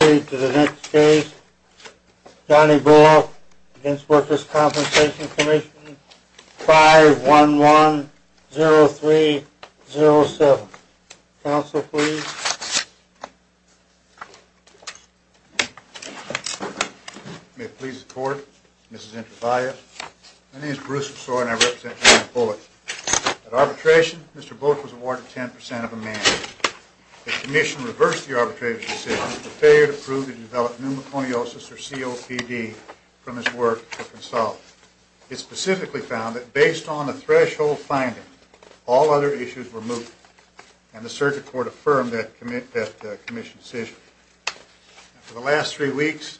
We now proceed to the next case, Johnny Bullock v. Workers' Compensation Comm'n 511-0307. Counsel, please. May it please the court, Mrs. Introvalle. My name is Bruce McSaw and I represent John Bullock. At arbitration, Mr. Bullock was awarded 10% of a man. The commission reversed the arbitration decision with the failure to prove that he developed pneumoconiosis or COPD from his work for Consolidate. It specifically found that, based on a threshold finding, all other issues were moot, and the circuit court affirmed that commission's decision. For the last three weeks,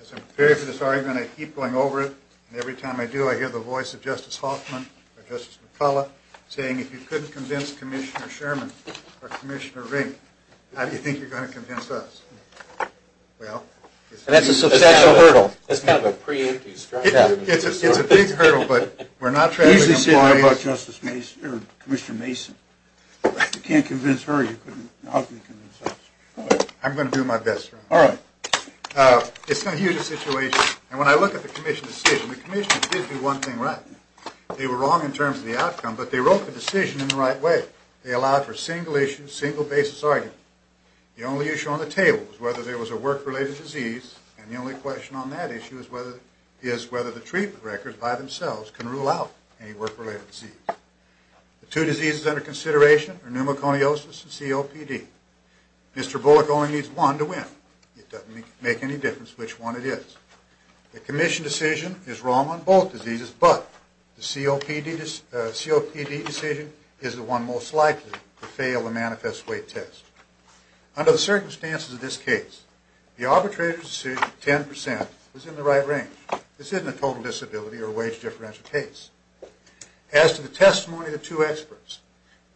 as I'm preparing for this argument, I keep going over it, and every time I do, I hear the voice of Justice Hoffman or Justice McCullough saying, if you couldn't convince Commissioner Sherman or Commissioner Rink, how do you think you're going to convince us? And that's a substantial hurdle. That's kind of a preemptive strike. It's a big hurdle, but we're not trying to... He's been saying a lot about Commissioner Mason. If you can't convince her, how can you convince us? I'm going to do my best. All right. It's a huge situation, and when I look at the commission's decision, the commission did do one thing right. They were wrong in terms of the outcome, but they wrote the decision in the right way. They allowed for single-issue, single-basis argument. The only issue on the table was whether there was a work-related disease, and the only question on that issue is whether the treatment records by themselves can rule out any work-related disease. The two diseases under consideration are pneumoconiosis and COPD. Mr. Bullock only needs one to win. It doesn't make any difference which one it is. The commission decision is wrong on both diseases, but the COPD decision is the one most likely to fail the manifest weight test. Under the circumstances of this case, the arbitrator's decision, 10%, was in the right range. This isn't a total disability or wage differential case. As to the testimony of the two experts,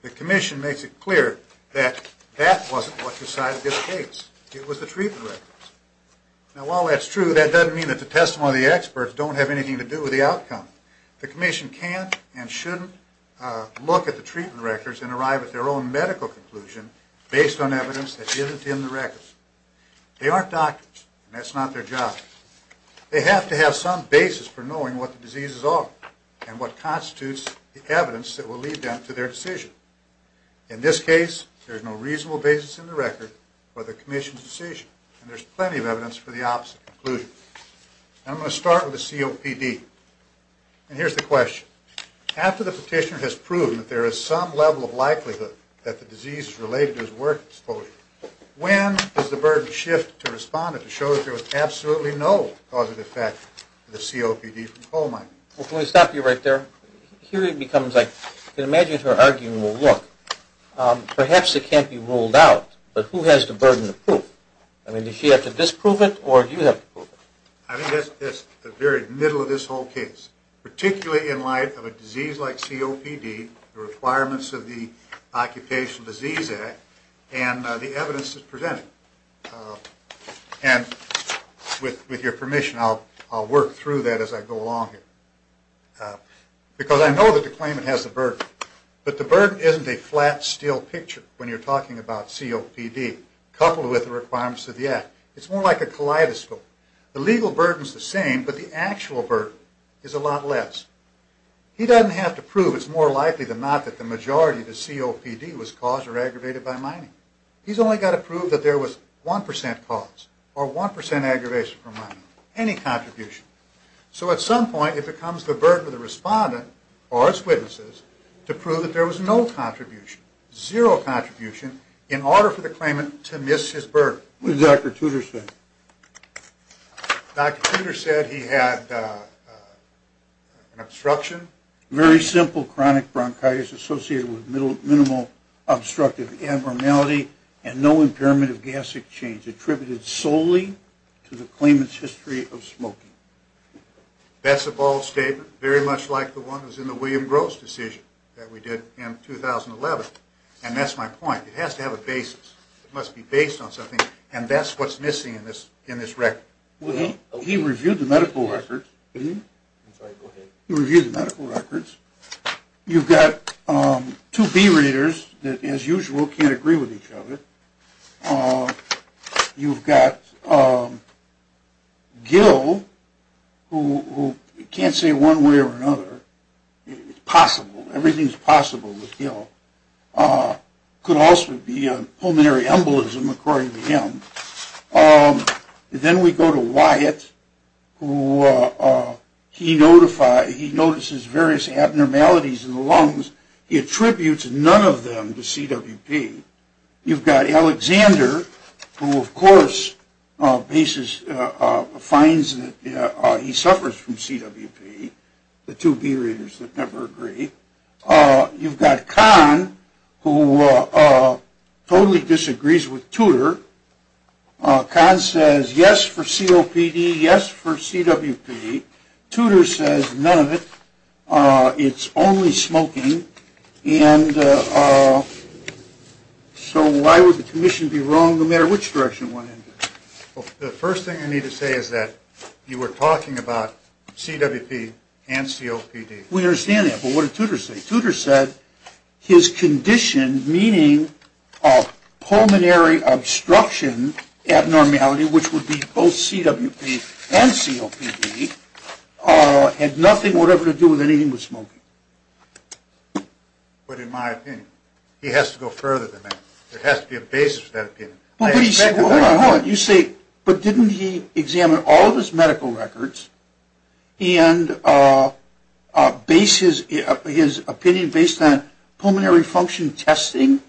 the commission makes it clear that that wasn't what decided this case. It was the treatment records. Now, while that's true, that doesn't mean that the testimony of the experts don't have anything to do with the outcome. The commission can't and shouldn't look at the treatment records and arrive at their own medical conclusion based on evidence that isn't in the records. They aren't doctors, and that's not their job. They have to have some basis for knowing what the diseases are and what constitutes the evidence that will lead them to their decision. In this case, there's no reasonable basis in the record for the commission's decision, and there's plenty of evidence for the opposite conclusion. I'm going to start with the COPD, and here's the question. After the petitioner has proven that there is some level of likelihood that the disease is related to his work exposure, when does the burden shift to respond and to show that there was absolutely no causative effect of the COPD from coal mining? Well, can we stop you right there? Here it becomes, I can imagine her arguing, well, look, perhaps it can't be ruled out, but who has the burden to prove? I mean, does she have to disprove it, or do you have to prove it? I think that's the very middle of this whole case, particularly in light of a disease like COPD, the requirements of the Occupational Disease Act, and the evidence that's presented. And with your permission, I'll work through that as I go along here. Because I know that the claimant has the burden, but the burden isn't a flat, still picture when you're talking about COPD, coupled with the requirements of the Act. It's more like a kaleidoscope. The legal burden's the same, but the actual burden is a lot less. He doesn't have to prove it's more likely than not that the majority of the COPD was caused or aggravated by mining. He's only got to prove that there was 1% cause or 1% aggravation from mining, any contribution. So at some point, it becomes the burden of the respondent or its witnesses to prove that there was no contribution, zero contribution, in order for the claimant to miss his burden. What did Dr. Tudor say? Dr. Tudor said he had an obstruction. Very simple chronic bronchitis associated with minimal obstructive abnormality and no impairment of gastric change attributed solely to the claimant's history of smoking. That's a bold statement, very much like the one that was in the William Gross decision that we did in 2011. And that's my point. It has to have a basis. It must be based on something, and that's what's missing in this record. He reviewed the medical records. You've got two B-readers that, as usual, can't agree with each other. You've got Gil, who can't say one way or another. It's possible. Everything's possible with Gil. Could also be a pulmonary embolism, according to him. Then we go to Wyatt, who he notices various abnormalities in the lungs. He attributes none of them to CWP. You've got Alexander, who, of course, finds that he suffers from CWP. The two B-readers that never agree. You've got Kahn, who totally disagrees with Tudor. Kahn says yes for COPD, yes for CWP. Tudor says none of it. It's only smoking. So why would the commission be wrong, no matter which direction it went in? The first thing I need to say is that you were talking about CWP and COPD. We understand that, but what did Tudor say? Tudor said his condition, meaning pulmonary obstruction abnormality, which would be both CWP and COPD, had nothing whatever to do with anything but smoking. But in my opinion, he has to go further than that. There has to be a basis for that opinion. Hold on. You say, but didn't he examine all of his medical records and base his opinion based on pulmonary function testing?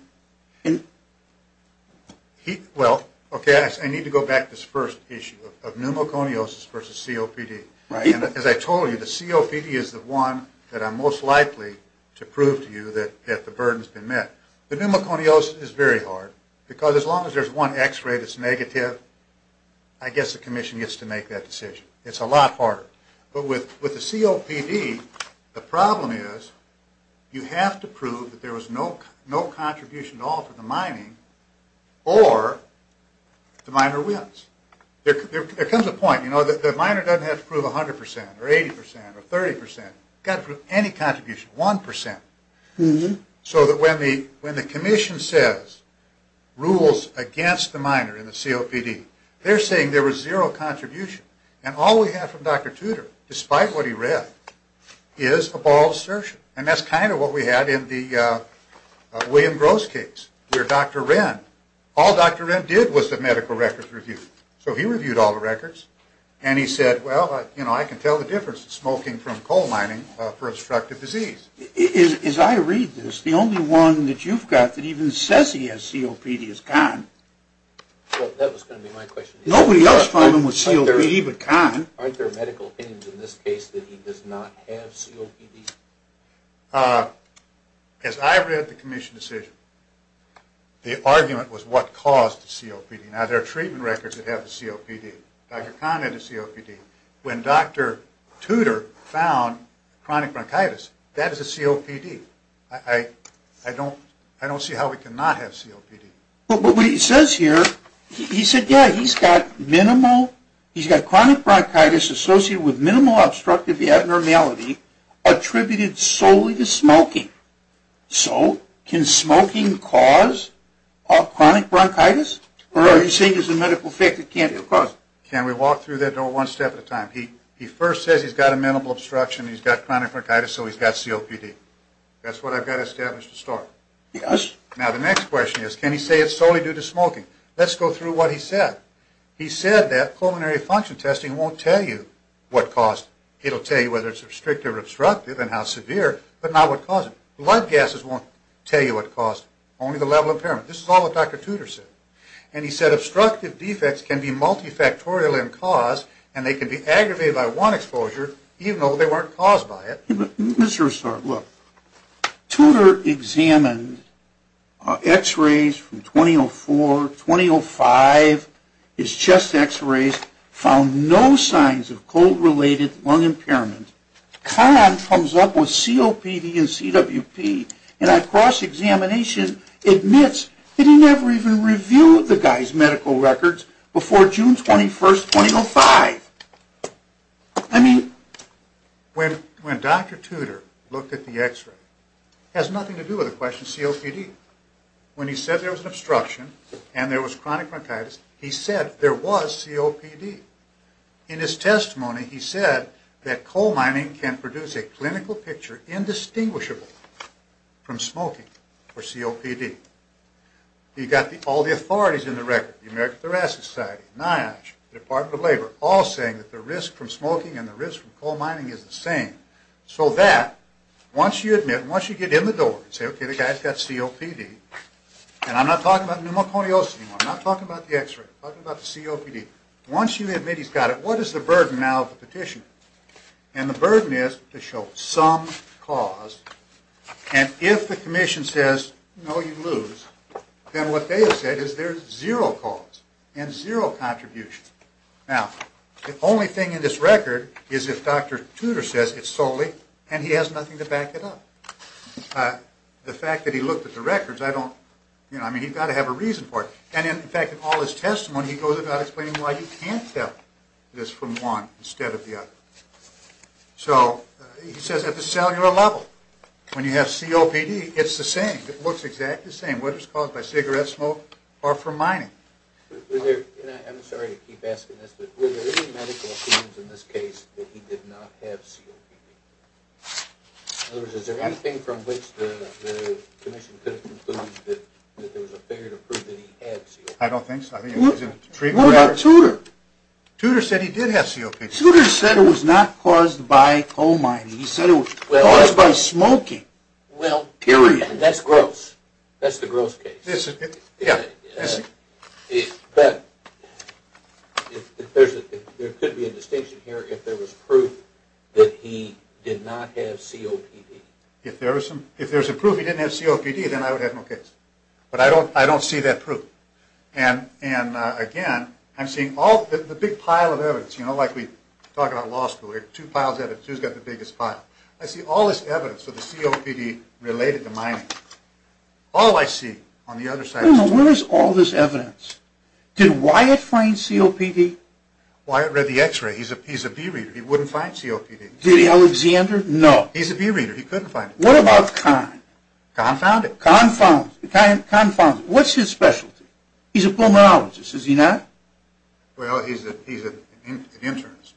Well, okay, I need to go back to this first issue of pneumoconiosis versus COPD. As I told you, the COPD is the one that I'm most likely to prove to you that the burden has been met. The pneumoconiosis is very hard, because as long as there's one x-ray that's negative, I guess the commission gets to make that decision. It's a lot harder. But with the COPD, the problem is you have to prove that there was no contribution at all to the mining, or the miner wins. There comes a point, you know, the miner doesn't have to prove 100% or 80% or 30%. You've got to prove any contribution, 1%. So that when the commission says, rules against the miner in the COPD, they're saying there was zero contribution. And all we have from Dr. Tudor, despite what he read, is a ball of assertion. And that's kind of what we had in the William Gross case, where Dr. Wren, all Dr. Wren did was the medical records review. So he reviewed all the records, and he said, well, you know, I can tell the difference in smoking from coal mining for obstructive disease. As I read this, the only one that you've got that even says he has COPD is Kahn. Well, that was going to be my question. Nobody else found him with COPD but Kahn. Aren't there medical opinions in this case that he does not have COPD? As I read the commission decision, the argument was what caused the COPD. Now, there are treatment records that have the COPD. Dr. Kahn had the COPD. When Dr. Tudor found chronic bronchitis, that is a COPD. I don't see how we cannot have COPD. But what he says here, he said, yeah, he's got chronic bronchitis associated with minimal obstructive abnormality attributed solely to smoking. So can smoking cause chronic bronchitis? Or are you saying there's a medical effect it can't cause? Can we walk through that door one step at a time? He first says he's got a minimal obstruction. He's got chronic bronchitis, so he's got COPD. That's what I've got established to start. Now, the next question is, can he say it's solely due to smoking? Let's go through what he said. He said that pulmonary function testing won't tell you what caused it. It will tell you whether it's obstructive or obstructive and how severe, but not what caused it. Blood gases won't tell you what caused it, only the level of impairment. This is all what Dr. Tudor said. And he said obstructive defects can be multifactorial in cause, and they can be aggravated by one exposure, even though they weren't caused by it. Let me start. Look, Tudor examined x-rays from 2004, 2005, his chest x-rays, found no signs of cold-related lung impairment. Kahn comes up with COPD and CWP, and at cross-examination, admits that he never even reviewed the guy's medical records before June 21st, 2005. I mean, when Dr. Tudor looked at the x-ray, it has nothing to do with the question of COPD. When he said there was an obstruction and there was chronic bronchitis, he said there was COPD. In his testimony, he said that coal mining can produce a clinical picture that is indistinguishable from smoking or COPD. He got all the authorities in the record, the American Thoracic Society, NIOSH, the Department of Labor, all saying that the risk from smoking and the risk from coal mining is the same. So that, once you admit, once you get in the door and say, okay, the guy's got COPD, and I'm not talking about pneumoconiosis anymore, I'm not talking about the x-ray, I'm talking about the COPD. Once you admit he's got it, what is the burden now of the petitioner? And the burden is to show some cause, and if the commission says, no, you lose, then what they have said is there's zero cause and zero contribution. Now, the only thing in this record is if Dr. Tudor says it's solely, and he has nothing to back it up. The fact that he looked at the records, I don't, you know, I mean, he's got to have a reason for it. And in fact, in all his testimony, he goes about explaining why you can't tell this from one instead of the other. So he says at the cellular level, when you have COPD, it's the same. It looks exactly the same, whether it's caused by cigarette smoke or from mining. I'm sorry to keep asking this, but were there any medical claims in this case that he did not have COPD? In other words, is there anything from which the commission could have concluded that there was a figure to prove that he had COPD? I don't think so. What about Tudor? Tudor said he did have COPD. Tudor said it was not caused by coal mining. He said it was caused by smoking, period. Well, that's gross. That's the gross case. But there could be a distinction here if there was proof that he did not have COPD. If there was a proof he didn't have COPD, then I would have no case. But I don't see that proof. And again, I'm seeing the big pile of evidence. You know, like we talk about law school, two piles of evidence, who's got the biggest pile? I see all this evidence of the COPD related to mining. All I see on the other side is COPD. Where is all this evidence? Did Wyatt find COPD? Wyatt read the x-ray. He's a bee reader. He wouldn't find COPD. Did Alexander? No. He's a bee reader. He couldn't find it. What about Kahn? Kahn found it. Kahn found it. What's his specialty? He's a pulmonologist, is he not? Well, he's an internist.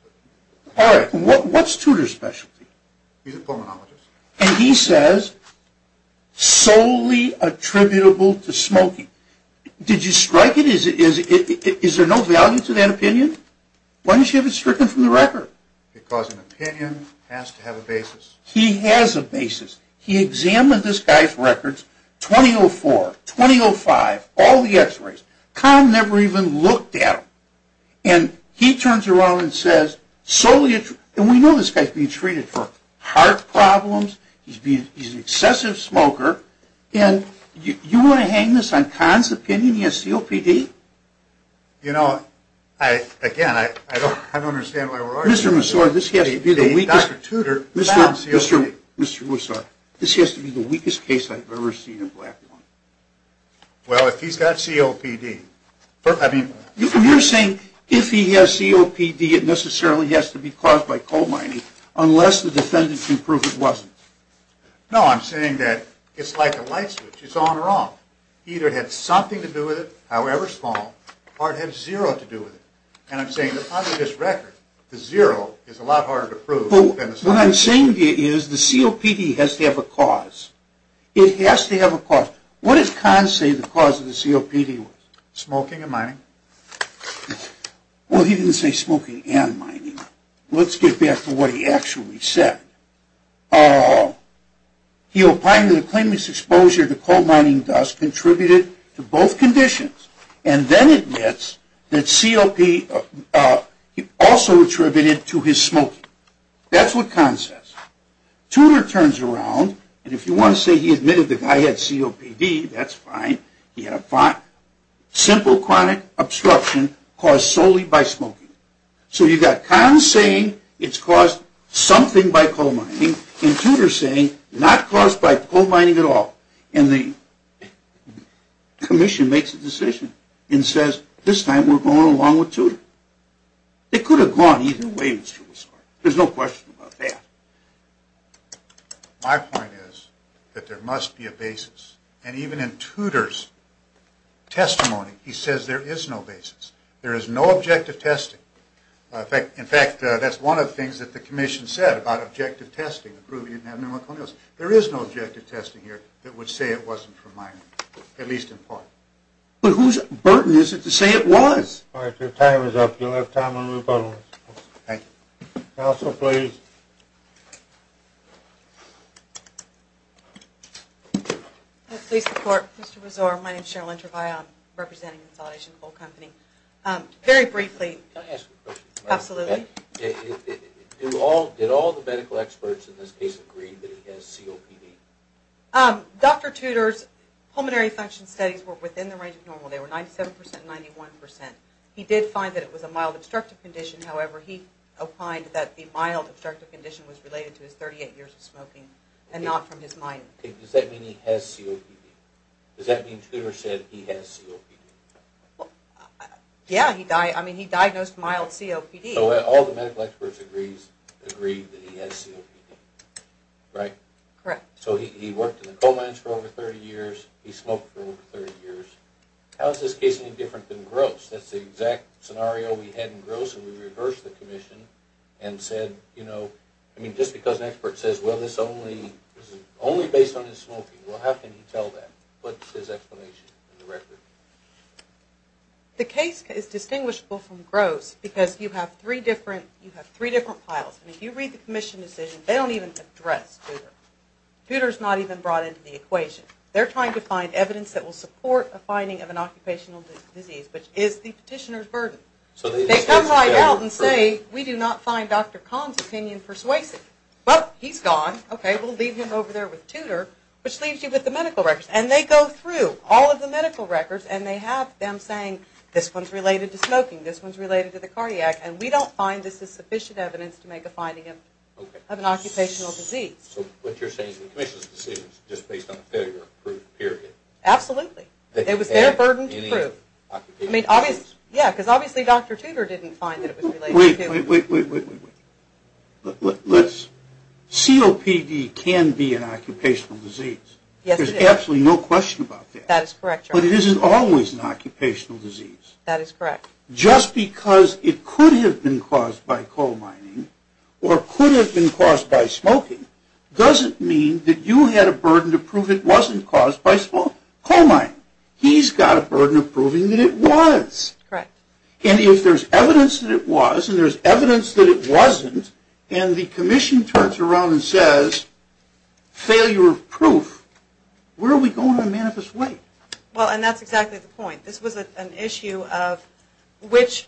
All right. What's Tudor's specialty? He's a pulmonologist. And he says, solely attributable to smoking. Did you strike it? Is there no value to that opinion? Why don't you have it stricken from the record? Because an opinion has to have a basis. He has a basis. He examined this guy's records, 2004, 2005, all the x-rays. Kahn never even looked at them. And he turns around and says, solely attributable. And we know this guy's being treated for heart problems. He's an excessive smoker. And you want to hang this on Kahn's opinion he has COPD? You know, again, I don't understand why we're arguing. Mr. Mussorri, this has to be the weakest case I've ever seen in black people. Well, if he's got COPD. You're saying if he has COPD, it necessarily has to be caused by coal mining, unless the defendant can prove it wasn't. No, I'm saying that it's like a light switch. It's on or off. Either it had something to do with it, however small, or it had zero to do with it. And I'm saying that under this record, the zero is a lot harder to prove. What I'm saying is the COPD has to have a cause. It has to have a cause. Now, what does Kahn say the cause of the COPD was? Smoking and mining. Well, he didn't say smoking and mining. Let's get back to what he actually said. He opined that a claimant's exposure to coal mining dust contributed to both conditions, and then admits that COPD also attributed to his smoking. That's what Kahn says. Tudor turns around, and if you want to say he admitted the guy had COPD, that's fine. He had a simple chronic obstruction caused solely by smoking. So you've got Kahn saying it's caused something by coal mining, and Tudor saying not caused by coal mining at all. And the commission makes a decision and says, this time we're going along with Tudor. It could have gone either way. There's no question about that. My point is that there must be a basis. And even in Tudor's testimony, he says there is no basis. There is no objective testing. In fact, that's one of the things that the commission said about objective testing, proving you didn't have pneumoconiosis. There is no objective testing here that would say it wasn't from mining, at least in part. But whose burden is it to say it was? All right. Your time is up. You'll have time on rebuttals. Thank you. Counsel, please. Police report. Mr. Buzor. My name is Cheryl Entreville. I'm representing the Consolidation Coal Company. Very briefly. Can I ask a question? Absolutely. Did all the medical experts in this case agree that he has COPD? Dr. Tudor's pulmonary function studies were within the range of normal. They were 97% and 91%. He did find that it was a mild obstructive condition. However, he opined that the mild obstructive condition was related to his 38 years of smoking and not from his mining. Does that mean he has COPD? Does that mean Tudor said he has COPD? Yeah. I mean, he diagnosed mild COPD. So all the medical experts agreed that he has COPD, right? Correct. So he worked in the coal mines for over 30 years. He smoked for over 30 years. How is this case any different than Gross? That's the exact scenario we had in Gross when we reversed the commission and said, you know, I mean, just because an expert says, well, this is only based on his smoking. Well, how can he tell that? What's his explanation in the record? The case is distinguishable from Gross because you have three different files. If you read the commission decision, they don't even address Tudor. Tudor's not even brought into the equation. They're trying to find evidence that will support a finding of an occupational disease, which is the petitioner's burden. They come right out and say, we do not find Dr. Kahn's opinion persuasive. Well, he's gone. Okay, we'll leave him over there with Tudor, which leaves you with the medical records. And they go through all of the medical records, and they have them saying, this one's related to smoking, this one's related to the cardiac, and we don't find this is sufficient evidence to make a finding of an occupational disease. So what you're saying is the commission's decision is just based on the failure of proof, period. Absolutely. It was their burden to prove. I mean, obviously, yeah, because obviously Dr. Tudor didn't find that it was related to Tudor. Wait, wait, wait. COPD can be an occupational disease. Yes, it is. There's absolutely no question about that. That is correct, John. But it isn't always an occupational disease. That is correct. Just because it could have been caused by coal mining or could have been caused by smoking doesn't mean that you had a burden to prove it wasn't caused by coal mining. He's got a burden of proving that it was. Correct. And if there's evidence that it was and there's evidence that it wasn't, and the commission turns around and says, failure of proof, where are we going on Manifest Way? Well, and that's exactly the point. This was an issue of which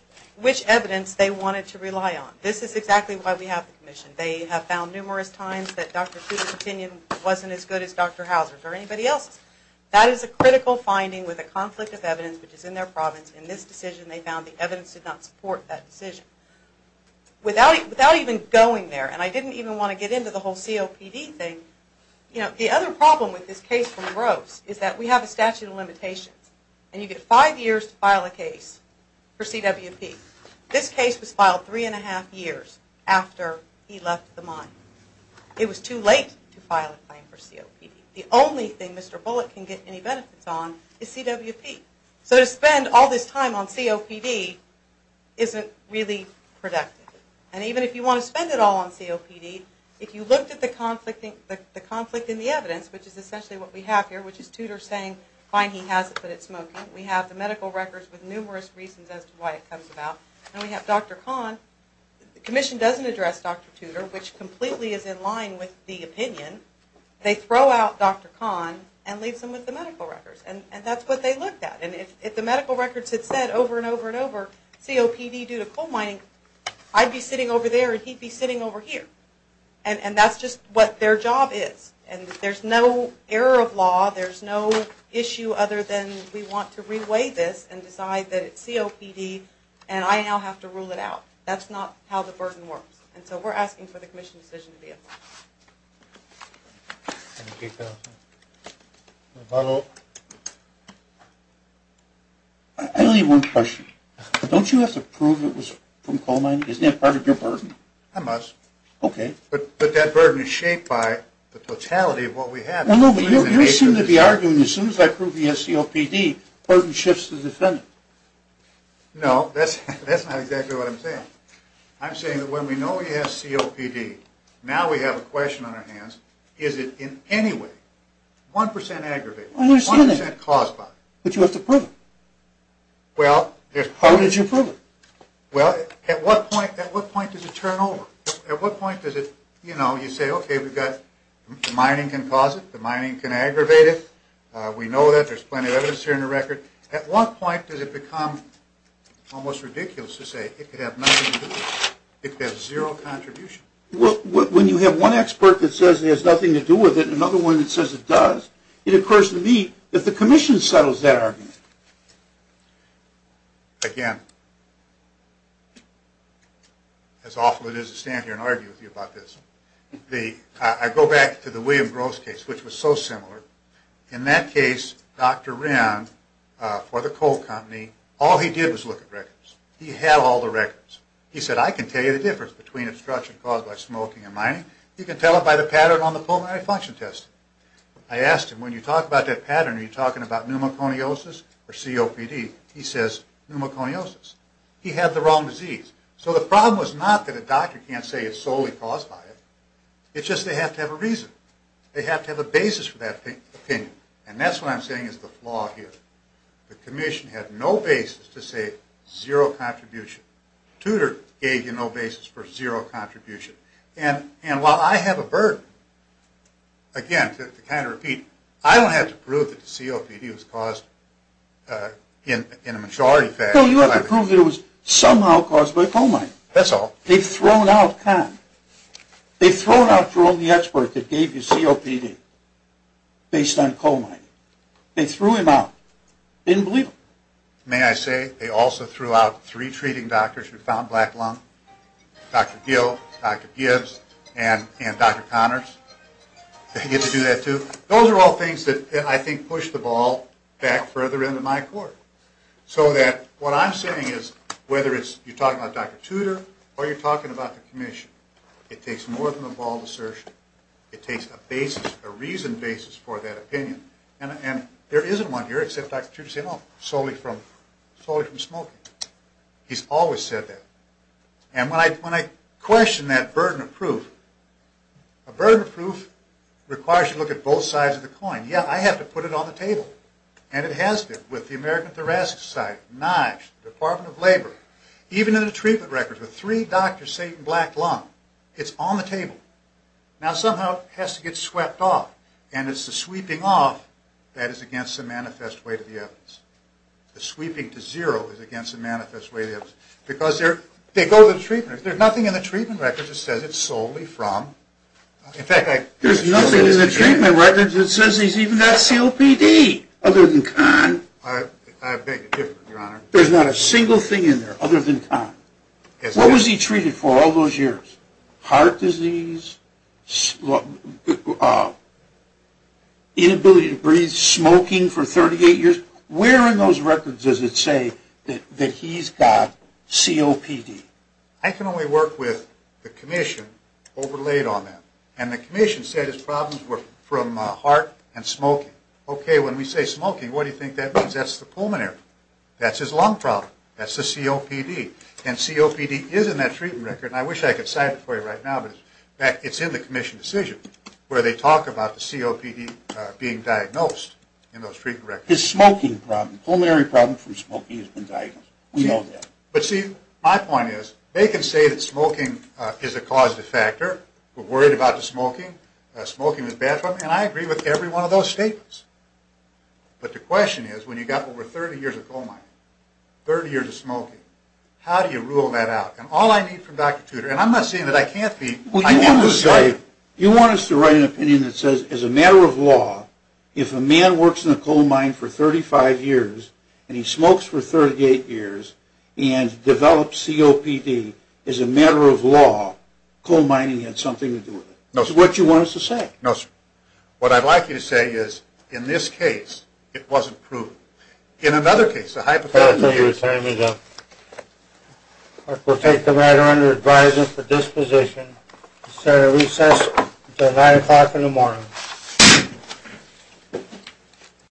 evidence they wanted to rely on. This is exactly why we have the commission. They have found numerous times that Dr. Tudor's opinion wasn't as good as Dr. Hauser's or anybody else's. That is a critical finding with a conflict of evidence which is in their province. In this decision, they found the evidence did not support that decision. Without even going there, and I didn't even want to get into the whole COPD thing, the other problem with this case from Rose is that we have a statute of limitations, and you get five years to file a case for CWP. This case was filed three and a half years after he left the mine. It was too late to file a claim for COPD. The only thing Mr. Bullock can get any benefits on is CWP. So to spend all this time on COPD isn't really productive. And even if you want to spend it all on COPD, if you looked at the conflict in the evidence, which is essentially what we have here, which is Tudor saying, fine, he has it, but it's smoking. We have the medical records with numerous reasons as to why it comes about. And we have Dr. Kahn. The commission doesn't address Dr. Tudor, which completely is in line with the opinion. They throw out Dr. Kahn and leave him with the medical records. And that's what they looked at. And if the medical records had said over and over and over, COPD due to coal mining, I'd be sitting over there and he'd be sitting over here. And that's just what their job is. And there's no error of law. There's no issue other than we want to reweigh this and decide that it's COPD, and I now have to rule it out. That's not how the burden works. And so we're asking for the commission's decision to be applied. Thank you. Hello. I only have one question. Don't you have to prove it was from coal mining? Isn't that part of your burden? I must. Okay. But that burden is shaped by the totality of what we have. Well, no, but you seem to be arguing as soon as I prove he has COPD, the burden shifts to the defendant. No, that's not exactly what I'm saying. I'm saying that when we know he has COPD, now we have a question on our hands, is it in any way 1% aggravated, 1% caused by it? But you have to prove it. Well, there's part of it. How do you prove it? Well, at what point does it turn over? At what point does it, you know, you say, okay, we've got mining can cause it, the mining can aggravate it. We know that. There's plenty of evidence here in the record. At what point does it become almost ridiculous to say it could have nothing to do with it, it could have zero contribution? When you have one expert that says it has nothing to do with it and another one that says it does, it occurs to me that the commission settles that argument. Again, it's awful it is to stand here and argue with you about this. I go back to the William Groves case, which was so similar. In that case, Dr. Wren, for the coal company, all he did was look at records. He had all the records. He said, I can tell you the difference between obstruction caused by smoking and mining. You can tell it by the pattern on the pulmonary function test. I asked him, when you talk about that pattern, are you talking about pneumoconiosis or COPD? He says, pneumoconiosis. He had the wrong disease. So the problem was not that a doctor can't say it's solely caused by it. It's just they have to have a reason. They have to have a basis for that opinion. And that's what I'm saying is the flaw here. The commission had no basis to say zero contribution. Tudor gave you no basis for zero contribution. And while I have a burden, again, to kind of repeat, I don't have to prove that the COPD was caused in a majority fashion. No, you have to prove it was somehow caused by coal mining. That's all. They've thrown out Kahn. They've thrown out Jerome the expert that gave you COPD based on coal mining. They threw him out. They didn't believe him. May I say they also threw out three treating doctors who found black lung? Dr. Gill, Dr. Gibbs, and Dr. Connors. They get to do that too. Those are all things that I think push the ball back further into my court. So that what I'm saying is whether you're talking about Dr. Tudor or you're talking about the commission, it takes more than a ball of assertion. It takes a reasoned basis for that opinion. And there isn't one here except Dr. Tudor saying, oh, solely from smoking. He's always said that. And when I question that burden of proof, a burden of proof requires you to look at both sides of the coin. Yeah, I have to put it on the table. And it has been with the American Thoracic Society, NIOSH, the Department of Labor. Even in the treatment records with three doctors saying black lung, it's on the table. Now somehow it has to get swept off. And it's the sweeping off that is against the manifest way to the evidence. The sweeping to zero is against the manifest way to the evidence. Because they go to the treatmenters. There's nothing in the treatment records that says it's solely from. There's nothing in the treatment records that says he's even got COPD, other than Kahn. I beg to differ, Your Honor. There's not a single thing in there other than Kahn. What was he treated for all those years? Heart disease? Inability to breathe? Smoking for 38 years? Where in those records does it say that he's got COPD? I can only work with the commission overlaid on that. And the commission said his problems were from heart and smoking. Okay, when we say smoking, what do you think that means? That's the pulmonary. That's his lung problem. That's the COPD. And COPD is in that treatment record. And I wish I could cite it for you right now, but it's in the commission decision where they talk about the COPD being diagnosed in those treatment records. His smoking problem, pulmonary problem from smoking has been diagnosed. We know that. But, see, my point is they can say that smoking is a causative factor, we're worried about the smoking, smoking is bad for him, and I agree with every one of those statements. But the question is when you've got over 30 years of coal mining, 30 years of smoking, how do you rule that out? And all I need from Dr. Tudor, and I'm not saying that I can't be. You want us to write an opinion that says as a matter of law, if a man works in a coal mine for 35 years and he smokes for 38 years and develops COPD as a matter of law, coal mining has something to do with it. No, sir. That's what you want us to say. No, sir. What I'd like you to say is in this case it wasn't proven. In another case, a hypothetical use. We'll take the matter under advisement for disposition. And we'll recess until 9 o'clock in the morning.